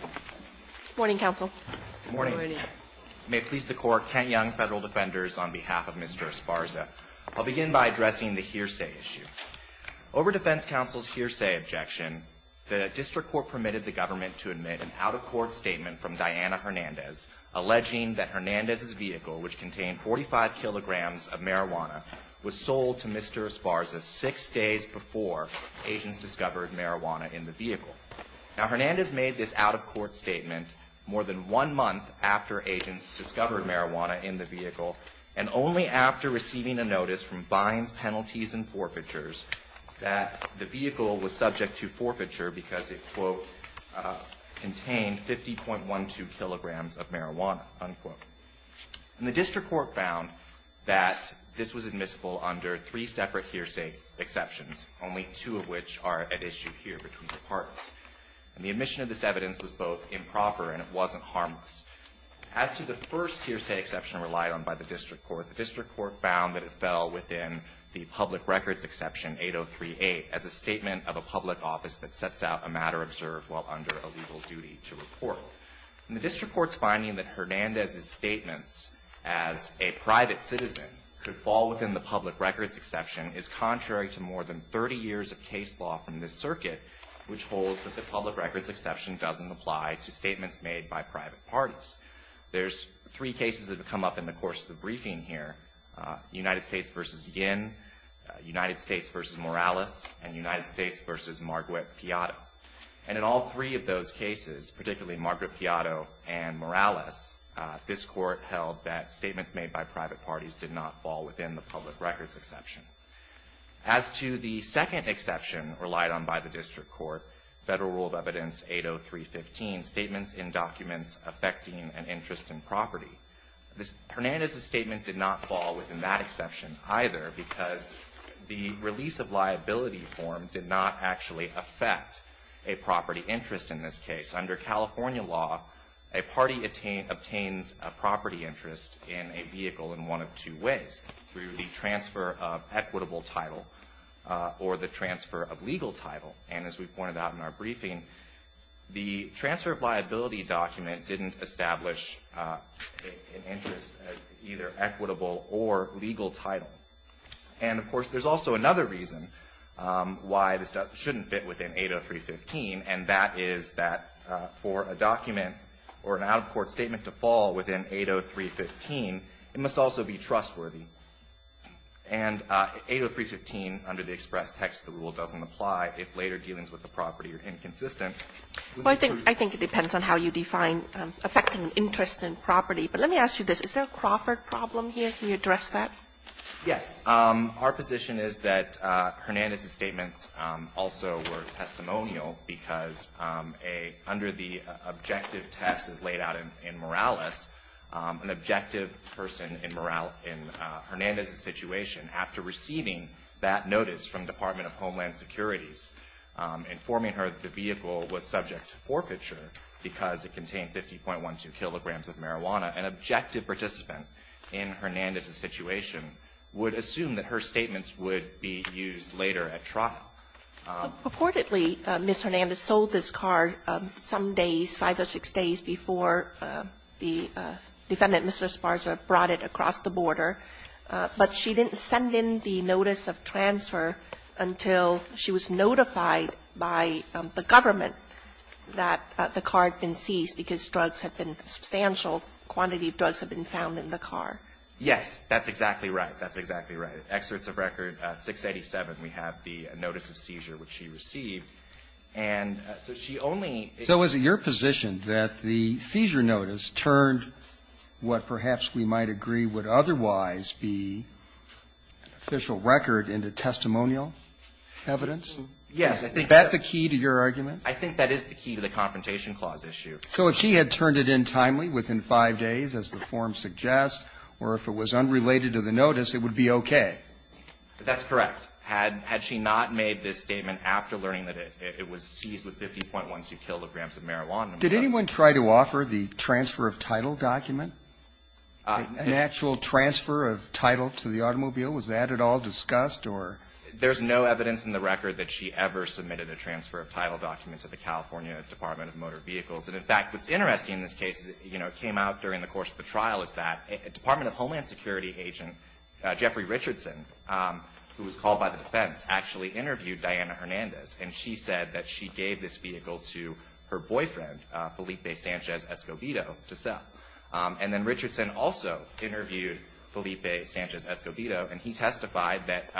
Good morning, Counsel. Good morning. May it please the Court, Kent Young, Federal Defenders, on behalf of Mr. Esparza. I'll begin by addressing the hearsay issue. Over Defense Counsel's hearsay objection, the District Court permitted the government to admit an out-of-court statement from Diana Hernandez alleging that Hernandez's vehicle, which contained 45 kilograms of marijuana, was sold to Mr. Esparza six days before agents discovered marijuana in the vehicle. Now, Hernandez made this out-of-court statement more than one month after agents discovered marijuana in the vehicle and only after receiving a notice from Vines Penalties and Forfeitures that the vehicle was subject to forfeiture because it, quote, contained 50.12 kilograms of marijuana, unquote. And the District Court found that this was admissible under three separate hearsay exceptions, only two of which are at issue here between the parties. And the admission of this evidence was both improper and it wasn't harmless. As to the first hearsay exception relied on by the District Court, the District Court found that it fell within the Public Records Exception 8038 as a statement of a public office that sets out a matter observed while under a legal duty to report. And the District Court's finding that Hernandez's statements as a private citizen could fall within the Public Records Exception is contrary to more than 30 years of case law from this circuit, which holds that the Public Records Exception doesn't apply to statements made by private parties. There's three cases that have come up in the course of the briefing here, United States v. Yin, United States v. Morales, and United States v. Marguerite Piatto. And in all three of those cases, particularly Marguerite Piatto and Morales, this Court held that statements made by private parties did not fall within the Public Records Exception. As to the second exception relied on by the District Court, Federal Rule of Evidence 80315, Statements in Documents Affecting an Interest in Property, Hernandez's statement did not fall within that exception either because the release of liability form did not actually affect a property interest in this case. Under California law, a party obtains a property interest in a vehicle in one of two ways, through the transfer of equitable title or the transfer of legal title. And as we pointed out in our briefing, the transfer of liability document didn't establish an interest, either equitable or legal title. And, of course, there's also another reason why this stuff shouldn't fit within 80315, and that is that for a document or an out-of-court statement to fall within 80315, it must also be trustworthy. And 80315 under the express text of the rule doesn't apply if later dealings with the property are inconsistent. Kagan. I think it depends on how you define affecting an interest in property. But let me ask you this. Is there a Crawford problem here? Can you address that? Yes. Our position is that Hernandez's statements also were testimonial because under the objective test as laid out in Morales, an objective person in Hernandez's situation, after receiving that notice from the Department of Homeland Security, informing her that the vehicle was subject to forfeiture because it contained 50.12 kilograms of marijuana, an objective participant in Hernandez's situation would assume that her statements would be used later at trial. So purportedly, Ms. Hernandez sold this car some days, five or six days, before the defendant, Mr. Esparza, brought it across the border, but she didn't send in the notice of transfer until she was notified by the government that the car had been seized and that a substantial quantity of drugs had been found in the car. Yes. That's exactly right. That's exactly right. Excerpts of record 687, we have the notice of seizure which she received. And so she only ---- So is it your position that the seizure notice turned what perhaps we might agree would otherwise be official record into testimonial evidence? Yes. Is that the key to your argument? I think that is the key to the Confrontation Clause issue. So if she had turned it in timely, within five days, as the form suggests, or if it was unrelated to the notice, it would be okay? That's correct. Had she not made this statement after learning that it was seized with 50.12 kilograms of marijuana ---- Did anyone try to offer the transfer of title document, an actual transfer of title to the automobile? Was that at all discussed or ---- There's no evidence in the record that she ever submitted a transfer of title document to the California Department of Motor Vehicles. And, in fact, what's interesting in this case is it came out during the course of the trial is that Department of Homeland Security agent Jeffrey Richardson, who was called by the defense, actually interviewed Diana Hernandez. And she said that she gave this vehicle to her boyfriend, Felipe Sanchez Escobedo, to sell. And then Richardson also interviewed Felipe Sanchez Escobedo. And he testified that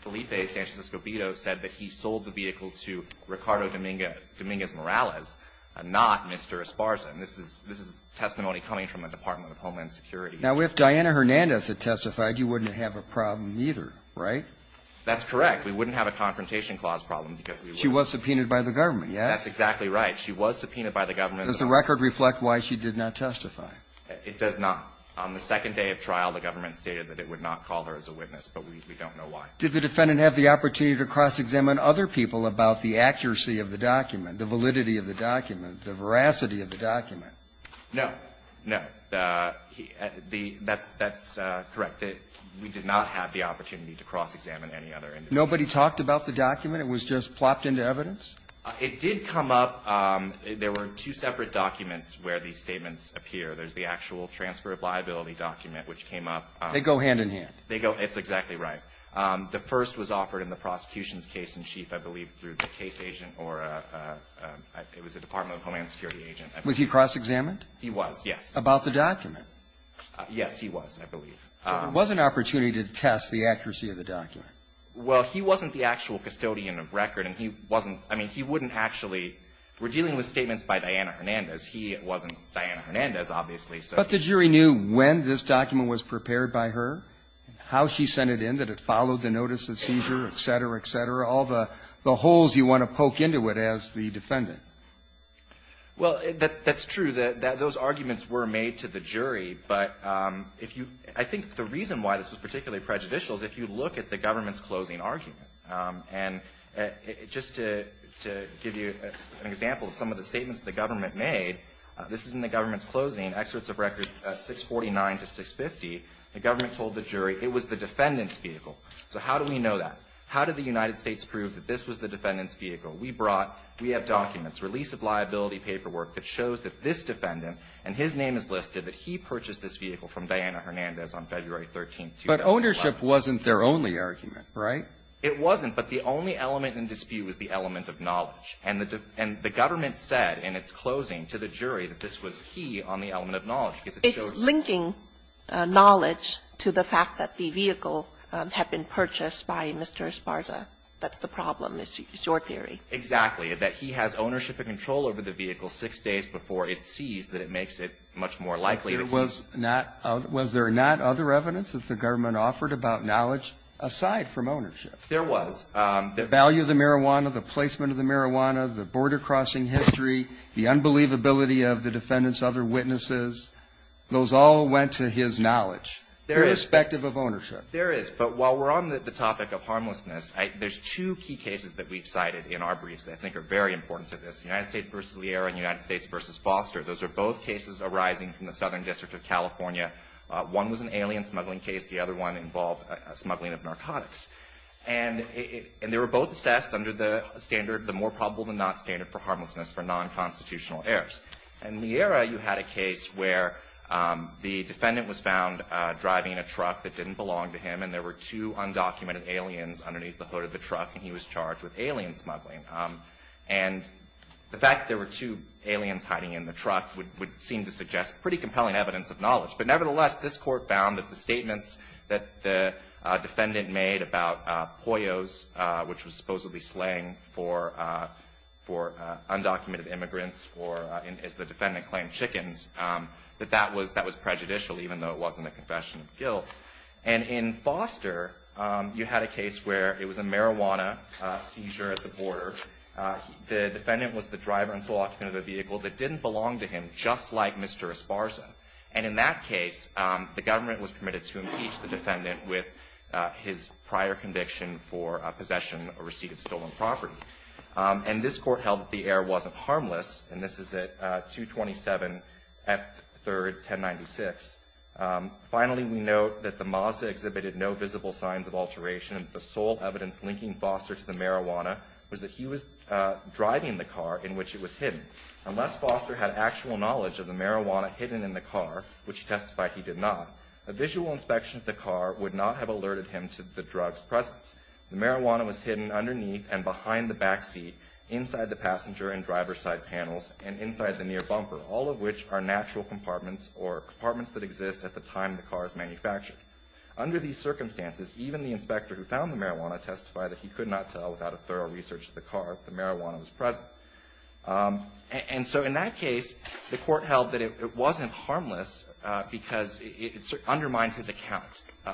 Felipe Sanchez Escobedo said that he sold the vehicle to Ricardo Dominguez Morales, not Mr. Esparza. And this is testimony coming from the Department of Homeland Security. Now, if Diana Hernandez had testified, you wouldn't have a problem either, right? That's correct. We wouldn't have a Confrontation Clause problem. She was subpoenaed by the government, yes? That's exactly right. She was subpoenaed by the government. Does the record reflect why she did not testify? It does not. On the second day of trial, the government stated that it would not call her as a witness, but we don't know why. Did the defendant have the opportunity to cross-examine other people about the accuracy of the document, the validity of the document, the veracity of the document? No. No. That's correct. We did not have the opportunity to cross-examine any other individuals. Nobody talked about the document? It was just plopped into evidence? It did come up. There were two separate documents where these statements appear. There's the actual Transfer of Liability document, which came up. They go hand-in-hand? It's exactly right. The first was offered in the prosecution's case-in-chief, I believe, through the case agent or it was the Department of Homeland Security agent. Was he cross-examined? He was, yes. About the document? Yes, he was, I believe. So there was an opportunity to test the accuracy of the document? Well, he wasn't the actual custodian of record, and he wasn't – I mean, he wouldn't actually – we're dealing with statements by Diana Hernandez. He wasn't Diana Hernandez, obviously. But the jury knew when this document was prepared by her, how she sent it in, that it followed the notice of seizure, et cetera, et cetera, all the holes you want to poke into it as the defendant. Well, that's true. Those arguments were made to the jury. But if you – I think the reason why this was particularly prejudicial is if you look at the government's closing argument. And just to give you an example of some of the statements the government made, this is in the government's closing, excerpts of records 649 to 650. The government told the jury it was the defendant's vehicle. So how do we know that? How did the United States prove that this was the defendant's vehicle? We brought – we have documents, release of liability paperwork that shows that this defendant, and his name is listed, that he purchased this vehicle from Diana Hernandez on February 13th, 2011. But ownership wasn't their only argument, right? It wasn't. But the only element in dispute was the element of knowledge. And the government said in its closing to the jury that this was key on the element of knowledge, because it showed that. It's linking knowledge to the fact that the vehicle had been purchased by Mr. Esparza. That's the problem, is your theory. Exactly. That he has ownership and control over the vehicle six days before it sees that it makes it much more likely to be. Was there not other evidence that the government offered about knowledge aside from ownership? There was. The value of the marijuana, the placement of the marijuana, the border crossing history, the unbelievability of the defendant's other witnesses, those all went to his knowledge. There is. Irrespective of ownership. There is. But while we're on the topic of harmlessness, there's two key cases that we've cited in our briefs that I think are very important to this. United States v. Liera and United States v. Foster. Those are both cases arising from the Southern District of California. One was an alien smuggling case. The other one involved smuggling of narcotics. And they were both assessed under the standard, the more probable than not standard for harmlessness for non-constitutional errors. In Liera, you had a case where the defendant was found driving a truck that didn't belong to him, and there were two undocumented aliens underneath the hood of the truck, and he was charged with alien smuggling. And the fact there were two aliens hiding in the truck would seem to suggest pretty compelling evidence of knowledge. But nevertheless, this court found that the statements that the defendant made about poyos, which was supposedly slang for undocumented immigrants or, as the defendant claimed, chickens, that that was prejudicial, even though it wasn't a confession of guilt. And in Foster, you had a case where it was a marijuana seizure at the border. The defendant was the driver and sole occupant of a vehicle that didn't belong to him, just like Mr. Esparza. And in that case, the government was permitted to impeach the defendant with his prior conviction for possession or receipt of stolen property. And this court held that the error wasn't harmless, and this is at 227 F. 3rd, 1096. Finally, we note that the Mazda exhibited no visible signs of alteration, and the sole evidence linking Foster to the marijuana was that he was driving the car in which it was hidden. Unless Foster had actual knowledge of the marijuana hidden in the car, which he testified he did not, a visual inspection of the car would not have alerted him to the drug's presence. The marijuana was hidden underneath and behind the back seat, inside the passenger and driver's side panels, and inside the near bumper, all of which are natural compartments or compartments that exist at the time the car is manufactured. Under these circumstances, even the inspector who found the marijuana testified that he could not tell without a thorough research of the car if the marijuana was present. And so in that case, the court held that it wasn't harmless because it undermined his account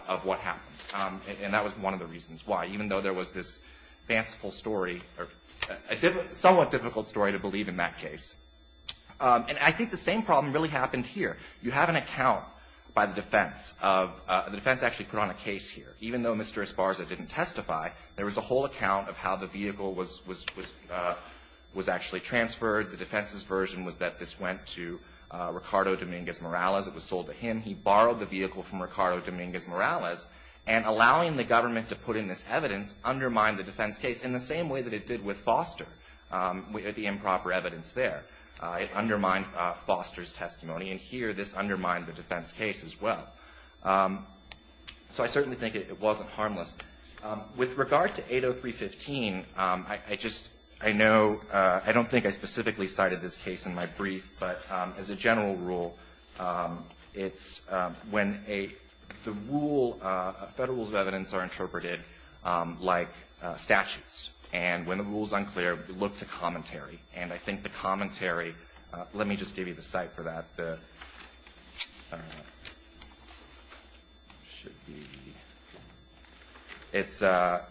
of what happened. And that was one of the reasons why, even though there was this fanciful story or a somewhat difficult story to believe in that case. And I think the same problem really happened here. You have an account by the defense of, the defense actually put on a case here. Even though Mr. Esparza didn't testify, there was a whole account of how the vehicle was actually transferred. The defense's version was that this went to Ricardo Dominguez-Morales. It was sold to him. He borrowed the vehicle from Ricardo Dominguez-Morales. And allowing the government to put in this evidence undermined the defense case in the same way that it did with Foster, the improper evidence there. It undermined Foster's testimony. And here, this undermined the defense case as well. So I certainly think it wasn't harmless. With regard to 803.15, I just, I know, I don't think I specifically cited this case in my brief, but as a general rule, it's when a, the rule, federal rules of the United States, and when the rule's unclear, we look to commentary. And I think the commentary, let me just give you the site for that. The, should be, it's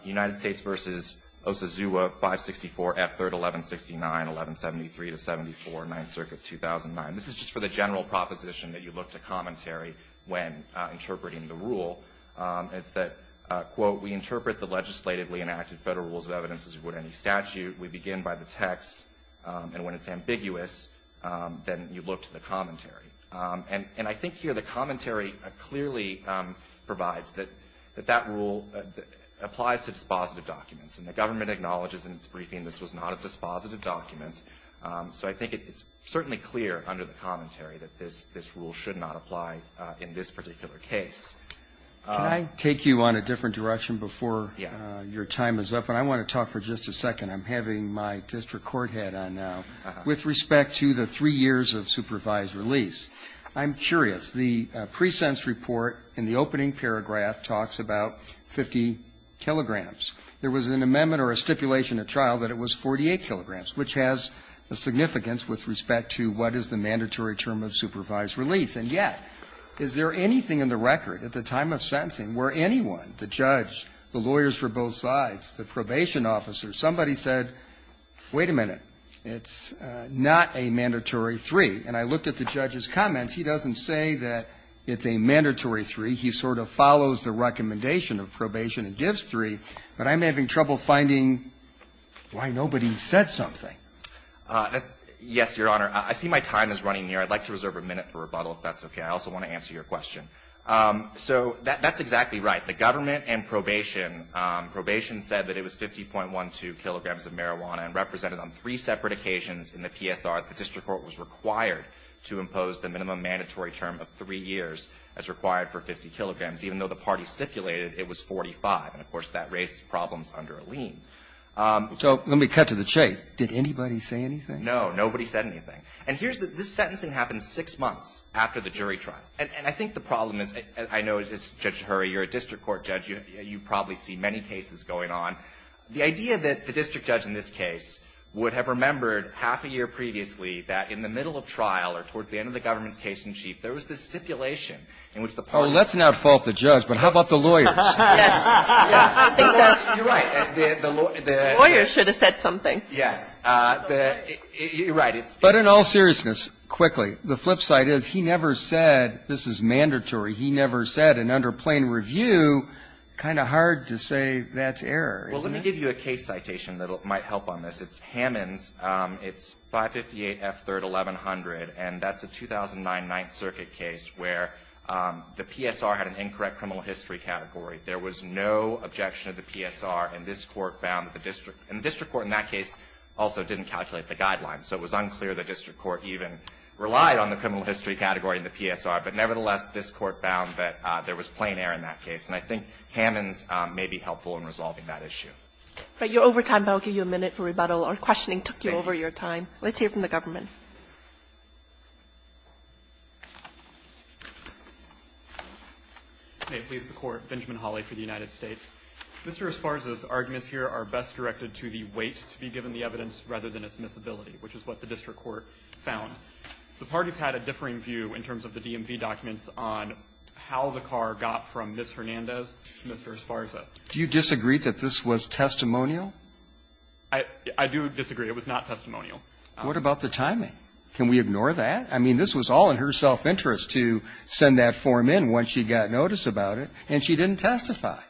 United States versus Osazua, 564 F3rd 1169, 1173 to 74, 9th Circuit, 2009. This is just for the general proposition that you look to commentary when interpreting the rule. It's that, quote, we interpret the legislatively enacted federal rules of evidence as would any statute. We begin by the text. And when it's ambiguous, then you look to the commentary. And I think here the commentary clearly provides that that rule applies to dispositive documents. And the government acknowledges in its briefing this was not a dispositive document. So I think it's certainly clear under the commentary that this rule should not Can I take you on a different direction before your time is up? And I want to talk for just a second. I'm having my district court head on now. With respect to the three years of supervised release, I'm curious. The presents report in the opening paragraph talks about 50 kilograms. There was an amendment or a stipulation at trial that it was 48 kilograms, which has a significance with respect to what is the mandatory term of supervised release. And yet, is there anything in the record at the time of sentencing where anyone, the judge, the lawyers for both sides, the probation officer, somebody said, wait a minute. It's not a mandatory three. And I looked at the judge's comments. He doesn't say that it's a mandatory three. He sort of follows the recommendation of probation and gives three. But I'm having trouble finding why nobody said something. Yes, Your Honor. I see my time is running near. I'd like to reserve a minute for rebuttal, if that's okay. I also want to answer your question. So that's exactly right. The government and probation, probation said that it was 50.12 kilograms of marijuana and represented on three separate occasions in the PSR that the district court was required to impose the minimum mandatory term of three years as required for 50 kilograms. Even though the party stipulated it was 45. And, of course, that raised problems under a lien. So let me cut to the chase. Did anybody say anything? No. Nobody said anything. And this sentencing happened six months after the jury trial. And I think the problem is, I know, Judge Hurry, you're a district court judge. You probably see many cases going on. The idea that the district judge in this case would have remembered half a year previously that in the middle of trial or towards the end of the government's case-in-chief, there was this stipulation in which the parties ---- Oh, let's not fault the judge, but how about the lawyers? Yes. You're right. The lawyers should have said something. Yes. Right. But in all seriousness, quickly, the flip side is he never said this is mandatory. He never said. And under plain review, kind of hard to say that's error, isn't it? Well, let me give you a case citation that might help on this. It's Hammons. It's 558 F. 3rd, 1100. And that's a 2009 Ninth Circuit case where the PSR had an incorrect criminal history category. There was no objection of the PSR. And this Court found that the district ---- and the district court in that case also didn't calculate the guidelines. So it was unclear the district court even relied on the criminal history category in the PSR. But nevertheless, this Court found that there was plain error in that case. And I think Hammons may be helpful in resolving that issue. All right. You're over time, but I'll give you a minute for rebuttal or questioning took you over your time. Let's hear from the government. May it please the Court. Benjamin Hawley for the United States. Mr. Esparza's arguments here are best directed to the weight to be given the evidence rather than its miscibility, which is what the district court found. The parties had a differing view in terms of the DMV documents on how the car got from Ms. Hernandez to Mr. Esparza. Do you disagree that this was testimonial? I do disagree. It was not testimonial. What about the timing? Can we ignore that? I mean, this was all in her self-interest to send that form in once she got notice about it, and she didn't testify.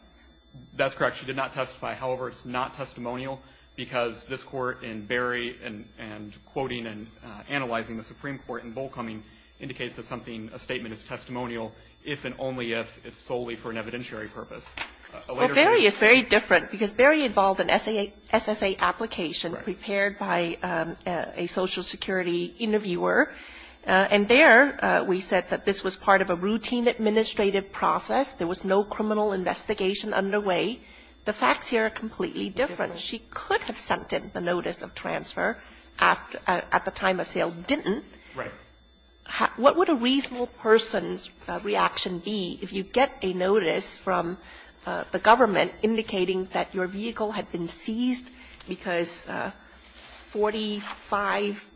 That's correct. She did not testify. However, it's not testimonial because this Court in Berry and quoting and analyzing the Supreme Court in Bullcoming indicates that something, a statement is testimonial if and only if it's solely for an evidentiary purpose. Well, Berry is very different because Berry involved an SSA application prepared by a Social Security interviewer, and there we said that this was part of a routine administrative process. There was no criminal investigation underway. The facts here are completely different. She could have sent in the notice of transfer at the time of sale, didn't. Right. What would a reasonable person's reaction be if you get a notice from the government indicating that your vehicle had been seized because 45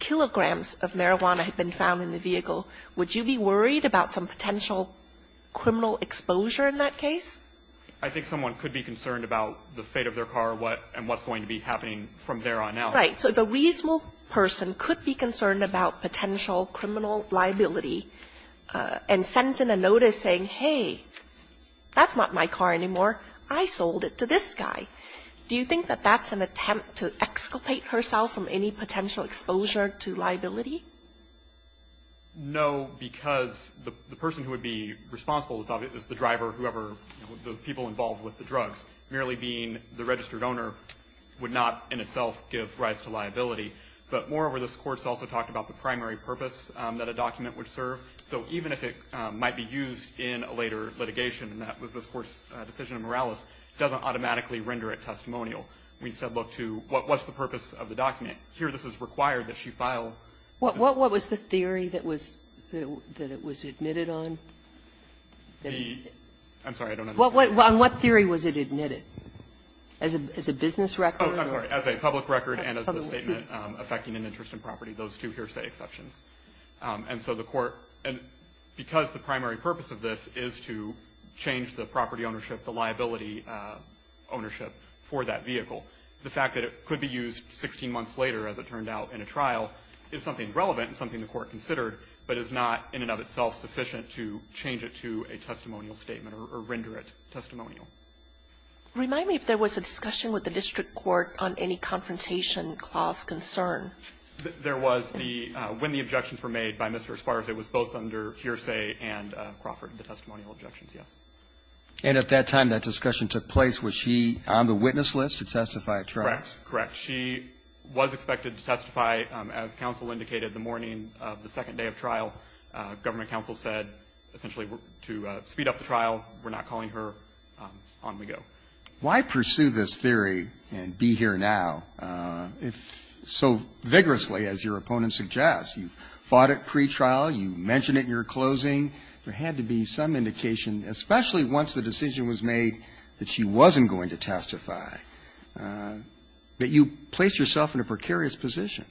kilograms of marijuana had been found in the vehicle? Would you be worried about some potential criminal exposure in that case? I think someone could be concerned about the fate of their car and what's going to be happening from there on out. Right. So if a reasonable person could be concerned about potential criminal liability and sends in a notice saying, hey, that's not my car anymore. I sold it to this guy, do you think that that's an attempt to exculpate herself from any potential exposure to liability? No, because the person who would be responsible is the driver, whoever, the people involved with the drugs. Merely being the registered owner would not in itself give rise to liability. But moreover, this Court also talked about the primary purpose that a document would serve. So even if it might be used in a later litigation, and that was this Court's decision in Morales, it doesn't automatically render it testimonial. We said, look, what's the purpose of the document? Here this is required that she file. What was the theory that it was admitted on? I'm sorry, I don't understand. On what theory was it admitted? As a business record? Oh, I'm sorry, as a public record and as a statement affecting an interest in property, those two hearsay exceptions. And so the Court, because the primary purpose of this is to change the property ownership, the liability ownership for that vehicle, the fact that it could be used 16 months later, as it turned out in a trial, is something relevant and something the Court considered, but is not in and of itself sufficient to change it to a testimonial statement or render it testimonial. Remind me if there was a discussion with the district court on any confrontation clause concern. There was. When the objections were made by Mr. Esparza, it was both under hearsay and Crawford, the testimonial objections, yes. And at that time, that discussion took place. Was she on the witness list to testify at trial? Correct. She was expected to testify, as counsel indicated, the morning of the second day of trial. Government counsel said essentially to speed up the trial. We're not calling her. On we go. Why pursue this theory and be here now so vigorously, as your opponent suggests? You fought it pretrial. You mentioned it in your closing. There had to be some indication, especially once the decision was made that she wasn't going to testify, that you placed yourself in a precarious position.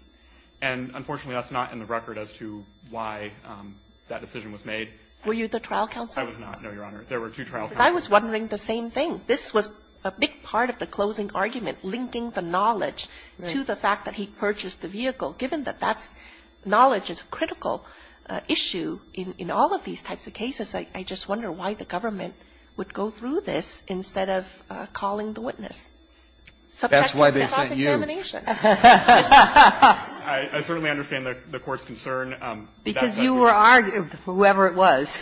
And unfortunately, that's not in the record as to why that decision was made. Were you the trial counsel? I was not, no, Your Honor. There were two trial counsels. I was wondering the same thing. This was a big part of the closing argument, linking the knowledge to the fact that he purchased the vehicle. Given that that knowledge is a critical issue in all of these types of cases, I just wonder why the government would go through this instead of calling the witness. That's why they sent you. I certainly understand the Court's concern. Because you were arguing, whoever it was,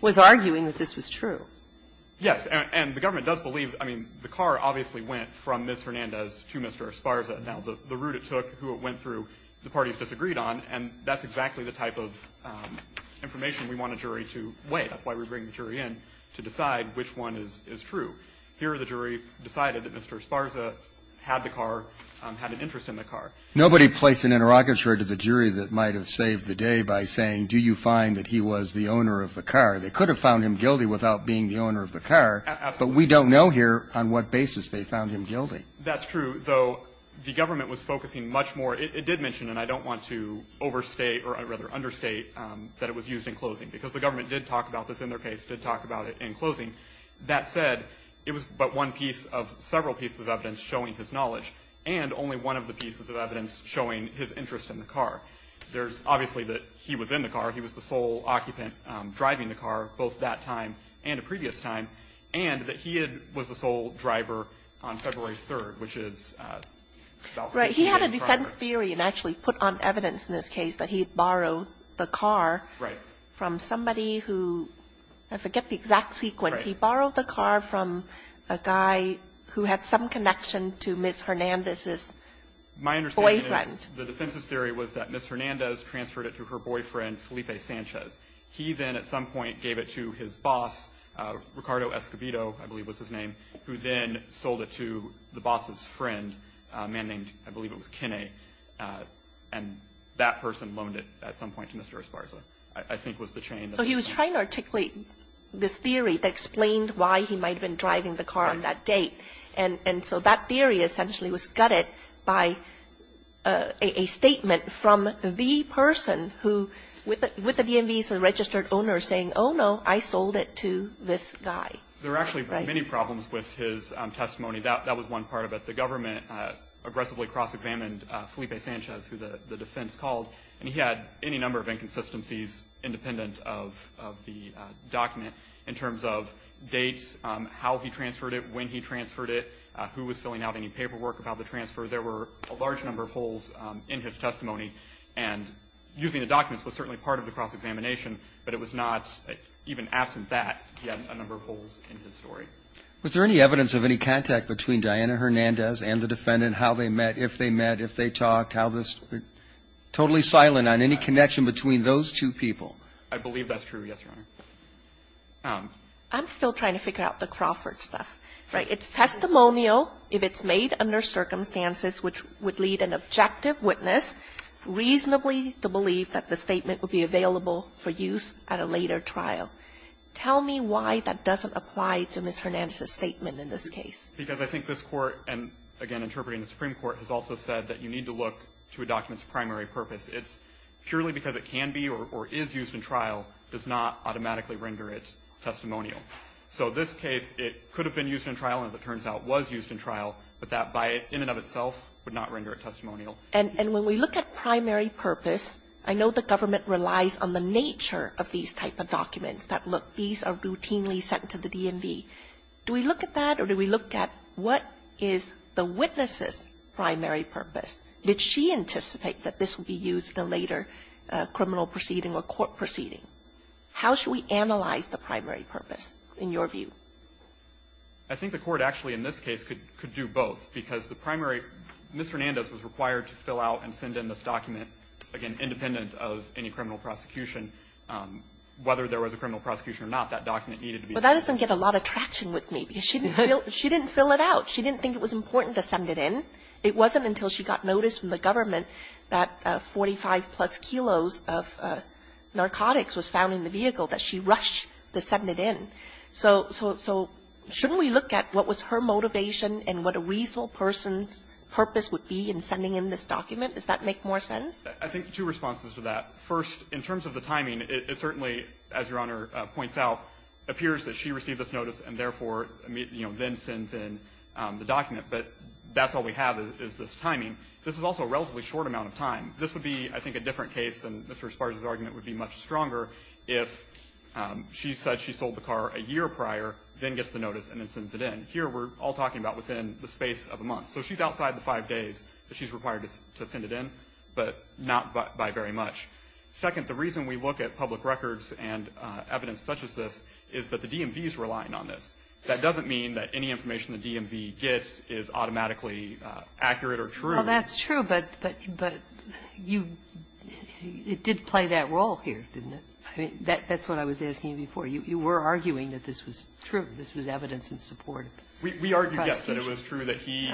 was arguing that this was true. Yes. And the government does believe. I mean, the car obviously went from Ms. Hernandez to Mr. Esparza. Now, the route it took, who it went through, the parties disagreed on. And that's exactly the type of information we want a jury to weigh. That's why we bring the jury in, to decide which one is true. Here, the jury decided that Mr. Esparza had the car, had an interest in the car. Nobody placed an interrogatory to the jury that might have saved the day by saying, do you find that he was the owner of the car? They could have found him guilty without being the owner of the car. But we don't know here on what basis they found him guilty. That's true, though the government was focusing much more. It did mention, and I don't want to overstate, or rather understate, that it was used in closing. Because the government did talk about this in their case, did talk about it in closing. That said, it was but one piece of several pieces of evidence showing his knowledge. And only one of the pieces of evidence showing his interest in the car. There's obviously that he was in the car. He was the sole occupant driving the car, both that time and a previous time. And that he was the sole driver on February 3rd, which is about six weeks in progress. Right. He had a defense theory, and actually put on evidence in this case, that he had borrowed the car from somebody who, I forget the exact sequence. He borrowed the car from a guy who had some connection to Ms. Hernandez's boyfriend. My understanding is the defense's theory was that Ms. Hernandez transferred it to her boyfriend, Felipe Sanchez. He then at some point gave it to his boss, Ricardo Escobedo, I believe was his name, who then sold it to the boss's friend, a man named, I believe it was Kinney. And that person loaned it at some point to Mr. Esparza, I think was the chain. So he was trying to articulate this theory that explained why he might have been driving the car on that date. And so that theory essentially was gutted by a statement from the person who, with the DMV's registered owner, saying, oh, no, I sold it to this guy. There were actually many problems with his testimony. That was one part of it. The government aggressively cross-examined Felipe Sanchez, who the defense called, and he had any number of inconsistencies independent of the document in terms of dates, how he transferred it, when he transferred it, who was filling out any paperwork about the transfer, there were a large number of holes in his testimony. And using the documents was certainly part of the cross-examination, but it was not, even absent that, he had a number of holes in his story. Was there any evidence of any contact between Diana Hernandez and the defendant, how they met, if they met, if they talked, how this was totally silent on any connection between those two people? I believe that's true, yes, Your Honor. I'm still trying to figure out the Crawford stuff, right? It's testimonial if it's made under circumstances which would lead an objective witness reasonably to believe that the statement would be available for use at a later trial. Tell me why that doesn't apply to Ms. Hernandez's statement in this case. Because I think this Court, and, again, interpreting the Supreme Court, has also said that you need to look to a document's primary purpose. It's purely because it can be or is used in trial does not automatically render it testimonial. So this case, it could have been used in trial, and as it turns out, was used in trial, but that by in and of itself would not render it testimonial. And when we look at primary purpose, I know the government relies on the nature of these type of documents that look, these are routinely sent to the DMV. Do we look at that, or do we look at what is the witness's primary purpose? Did she anticipate that this would be used in a later criminal proceeding or court proceeding? How should we analyze the primary purpose, in your view? I think the Court actually in this case could do both, because the primary Mrs. Hernandez was required to fill out and send in this document, again, independent of any criminal prosecution. Whether there was a criminal prosecution or not, that document needed to be filled out. But that doesn't get a lot of traction with me, because she didn't fill it out. She didn't think it was important to send it in. It wasn't until she got notice from the government that 45-plus kilos of narcotics was found in the vehicle that she rushed to send it in. So shouldn't we look at what was her motivation and what a reasonable person's purpose would be in sending in this document? Does that make more sense? I think two responses to that. First, in terms of the timing, it certainly, as Your Honor points out, appears that she received this notice, and therefore, you know, then sends in the document. But that's all we have is this timing. This is also a relatively short amount of time. This would be, I think, a different case, and Mr. Esparza's argument would be much stronger if she said she sold the car a year prior, then gets the notice, and then sends it in. Here, we're all talking about within the space of a month. So she's outside the five days that she's required to send it in, but not by very much. Second, the reason we look at public records and evidence such as this is that the DMV is relying on this. That doesn't mean that any information the DMV gets is automatically accurate or true. Well, that's true, but you did play that role here, didn't it? I mean, that's what I was asking you before. You were arguing that this was true, this was evidence in support of prosecution. We argued, yes, that it was true that he,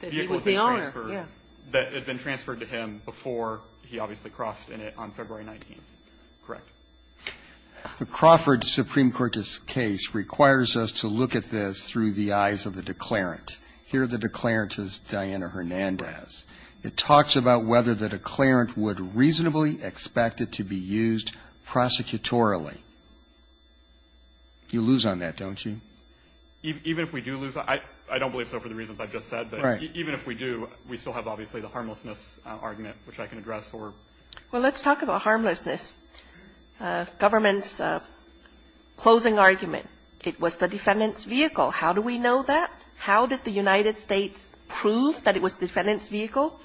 the vehicle had been transferred. That he was the owner, yes. That it had been transferred to him before he obviously crossed in it on February 19th. Correct? The Crawford Supreme Court's case requires us to look at this through the eyes of the declarant. Here, the declarant is Diana Hernandez. It talks about whether the declarant would reasonably expect it to be used prosecutorily. You lose on that, don't you? Even if we do lose on that, I don't believe so for the reasons I've just said. Right. But even if we do, we still have obviously the harmlessness argument, which I can address. Well, let's talk about harmlessness. Government's closing argument, it was the defendant's vehicle. How do we know that? How did the United States prove that it was the defendant's vehicle?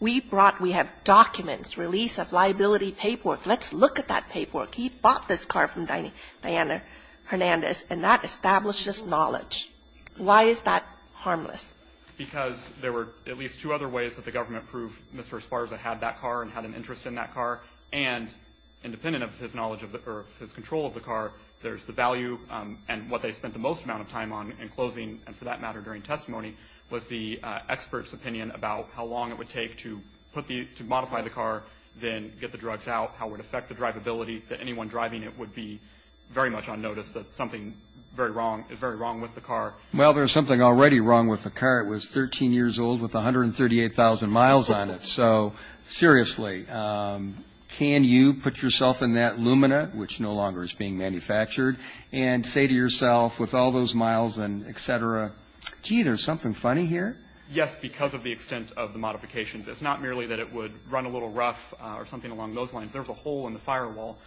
We brought, we have documents, release of liability paperwork. Let's look at that paperwork. He bought this car from Diana Hernandez, and that establishes knowledge. Why is that harmless? Because there were at least two other ways that the government proved Mr. Esparza had that car and had an interest in that car. And independent of his knowledge or his control of the car, there's the value, and what they spent the most amount of time on in closing, and for that matter, during testimony, was the expert's opinion about how long it would take to modify the car, then get the drugs out, how it would affect the drivability, that anyone driving it would be very much on notice that something is very wrong with the car. Well, there's something already wrong with the car. It was 13 years old with 138,000 miles on it. So, seriously, can you put yourself in that Lumina, which no longer is being manufactured, and say to yourself, with all those miles and et cetera, gee, there's something funny here? Yes, because of the extent of the modifications. It's not merely that it would run a little rough or something along those lines. There was a hole in the firewall,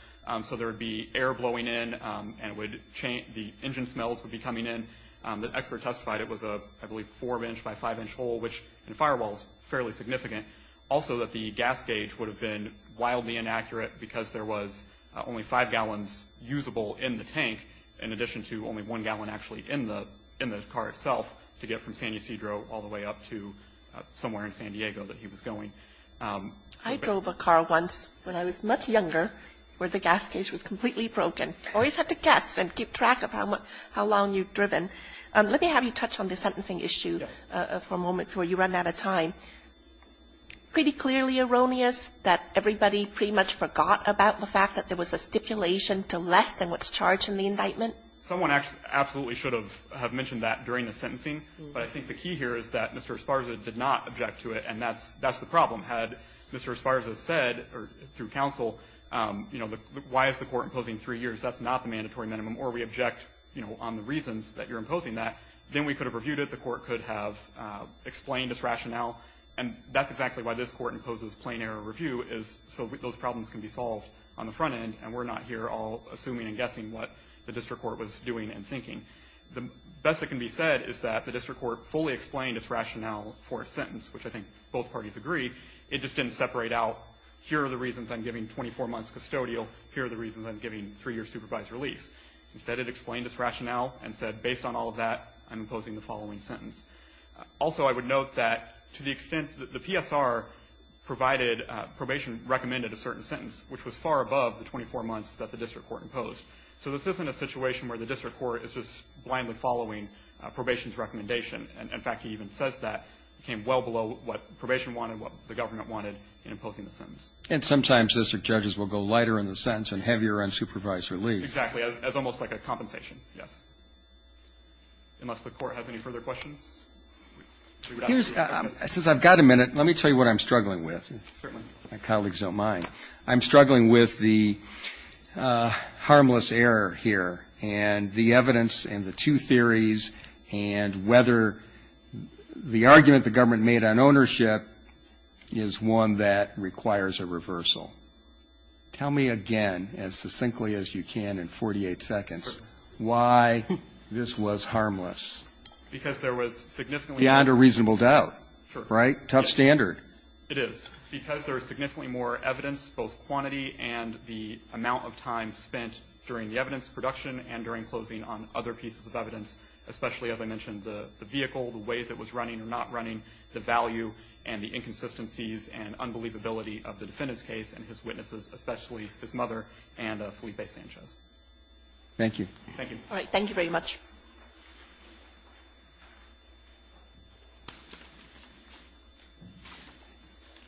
so there would be air blowing in, and it would change, the engine smells would be coming in. The expert testified it was a, I believe, four-inch by five-inch hole, which in addition to the gas gauge would have been wildly inaccurate because there was only five gallons usable in the tank in addition to only one gallon actually in the car itself to get from San Ysidro all the way up to somewhere in San Diego that he was going. I drove a car once when I was much younger where the gas gauge was completely broken. Always had to guess and keep track of how long you'd driven. Let me have you touch on the sentencing issue for a moment before you run out of time. Pretty clearly erroneous that everybody pretty much forgot about the fact that there was a stipulation to less than what's charged in the indictment? Someone absolutely should have mentioned that during the sentencing, but I think the key here is that Mr. Esparza did not object to it, and that's the problem. Had Mr. Esparza said through counsel, you know, why is the Court imposing three years, that's not the mandatory minimum, or we object, you know, on the reasons that you're imposing that, then we could have reviewed it, the Court could have reviewed it. And that's exactly why this Court imposes plain error review is so those problems can be solved on the front end, and we're not here all assuming and guessing what the district court was doing and thinking. The best that can be said is that the district court fully explained its rationale for a sentence, which I think both parties agreed. It just didn't separate out, here are the reasons I'm giving 24 months custodial, here are the reasons I'm giving three-year supervised release. Instead, it explained its rationale and said, based on all of that, I'm imposing the following sentence. Also, I would note that to the extent that the PSR provided probation recommended a certain sentence, which was far above the 24 months that the district court imposed. So this isn't a situation where the district court is just blindly following probation's recommendation. In fact, he even says that it came well below what probation wanted, what the government wanted in imposing the sentence. And sometimes district judges will go lighter in the sentence and heavier on supervised release. Exactly. It's almost like a compensation, yes. Unless the Court has any further questions. Since I've got a minute, let me tell you what I'm struggling with. Certainly. My colleagues don't mind. I'm struggling with the harmless error here and the evidence and the two theories and whether the argument the government made on ownership is one that requires a reversal. Tell me again, as succinctly as you can in 48 seconds, why this was harmless. Because there was significantly more. Beyond a reasonable doubt. Sure. Right? Tough standard. It is. Because there was significantly more evidence, both quantity and the amount of time spent during the evidence production and during closing on other pieces of evidence, especially, as I mentioned, the vehicle, the ways it was running or not running, the value and the inconsistencies and unbelievability of the defendant's case and his witnesses, especially his mother and Felipe Sanchez. Thank you. Thank you. All right. Thank you very much.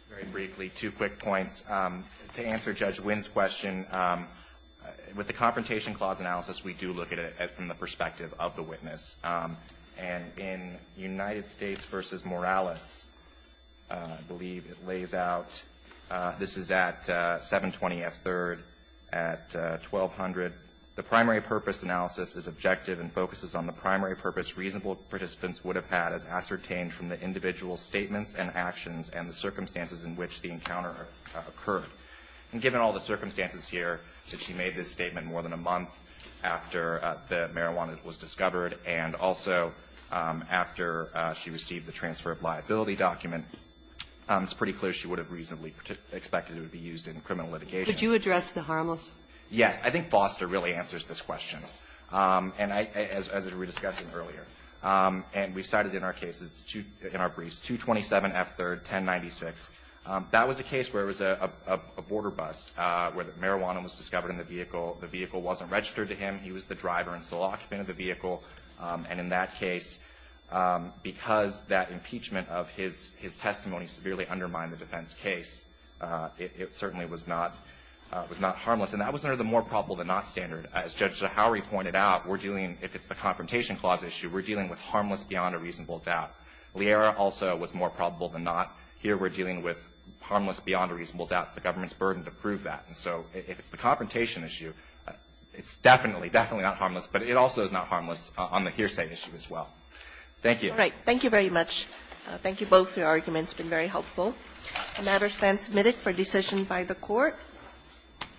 Very briefly, two quick points. To answer Judge Wynn's question, with the Confrontation Clause analysis, we do look at it from the perspective of the witness. And in United States v. Morales, I believe it lays out, this is at 720F3rd at 1200. The primary purpose analysis is objective and focuses on the primary purpose reasonable participants would have had as ascertained from the individual statements and actions and the circumstances in which the encounter occurred. And given all the circumstances here that she made this statement more than a month after the marijuana was discovered and also after she received the transfer of liability document, it's pretty clear she would have reasonably expected it would be used in criminal litigation. Could you address the harmless? Yes. I think Foster really answers this question, as we were discussing earlier. And we cited in our briefs 227F3rd, 1096. That was a case where it was a border bust, where the marijuana was discovered in the vehicle. The vehicle wasn't registered to him. He was the driver and sole occupant of the vehicle. And in that case, because that impeachment of his testimony severely undermined the defense case, it certainly was not harmless. And that was under the more probable than not standard. As Judge Zahauri pointed out, we're dealing, if it's the Confrontation Clause issue, we're dealing with harmless beyond a reasonable doubt. Liera also was more probable than not. Here we're dealing with harmless beyond a reasonable doubt. It's the government's burden to prove that. And so if it's the Confrontation issue, it's definitely, definitely not harmless, but it also is not harmless on the hearsay issue as well. Thank you. All right. Thank you very much. Thank you both. Your argument has been very helpful. The matter stands submitted for decision by the Court. Thank you.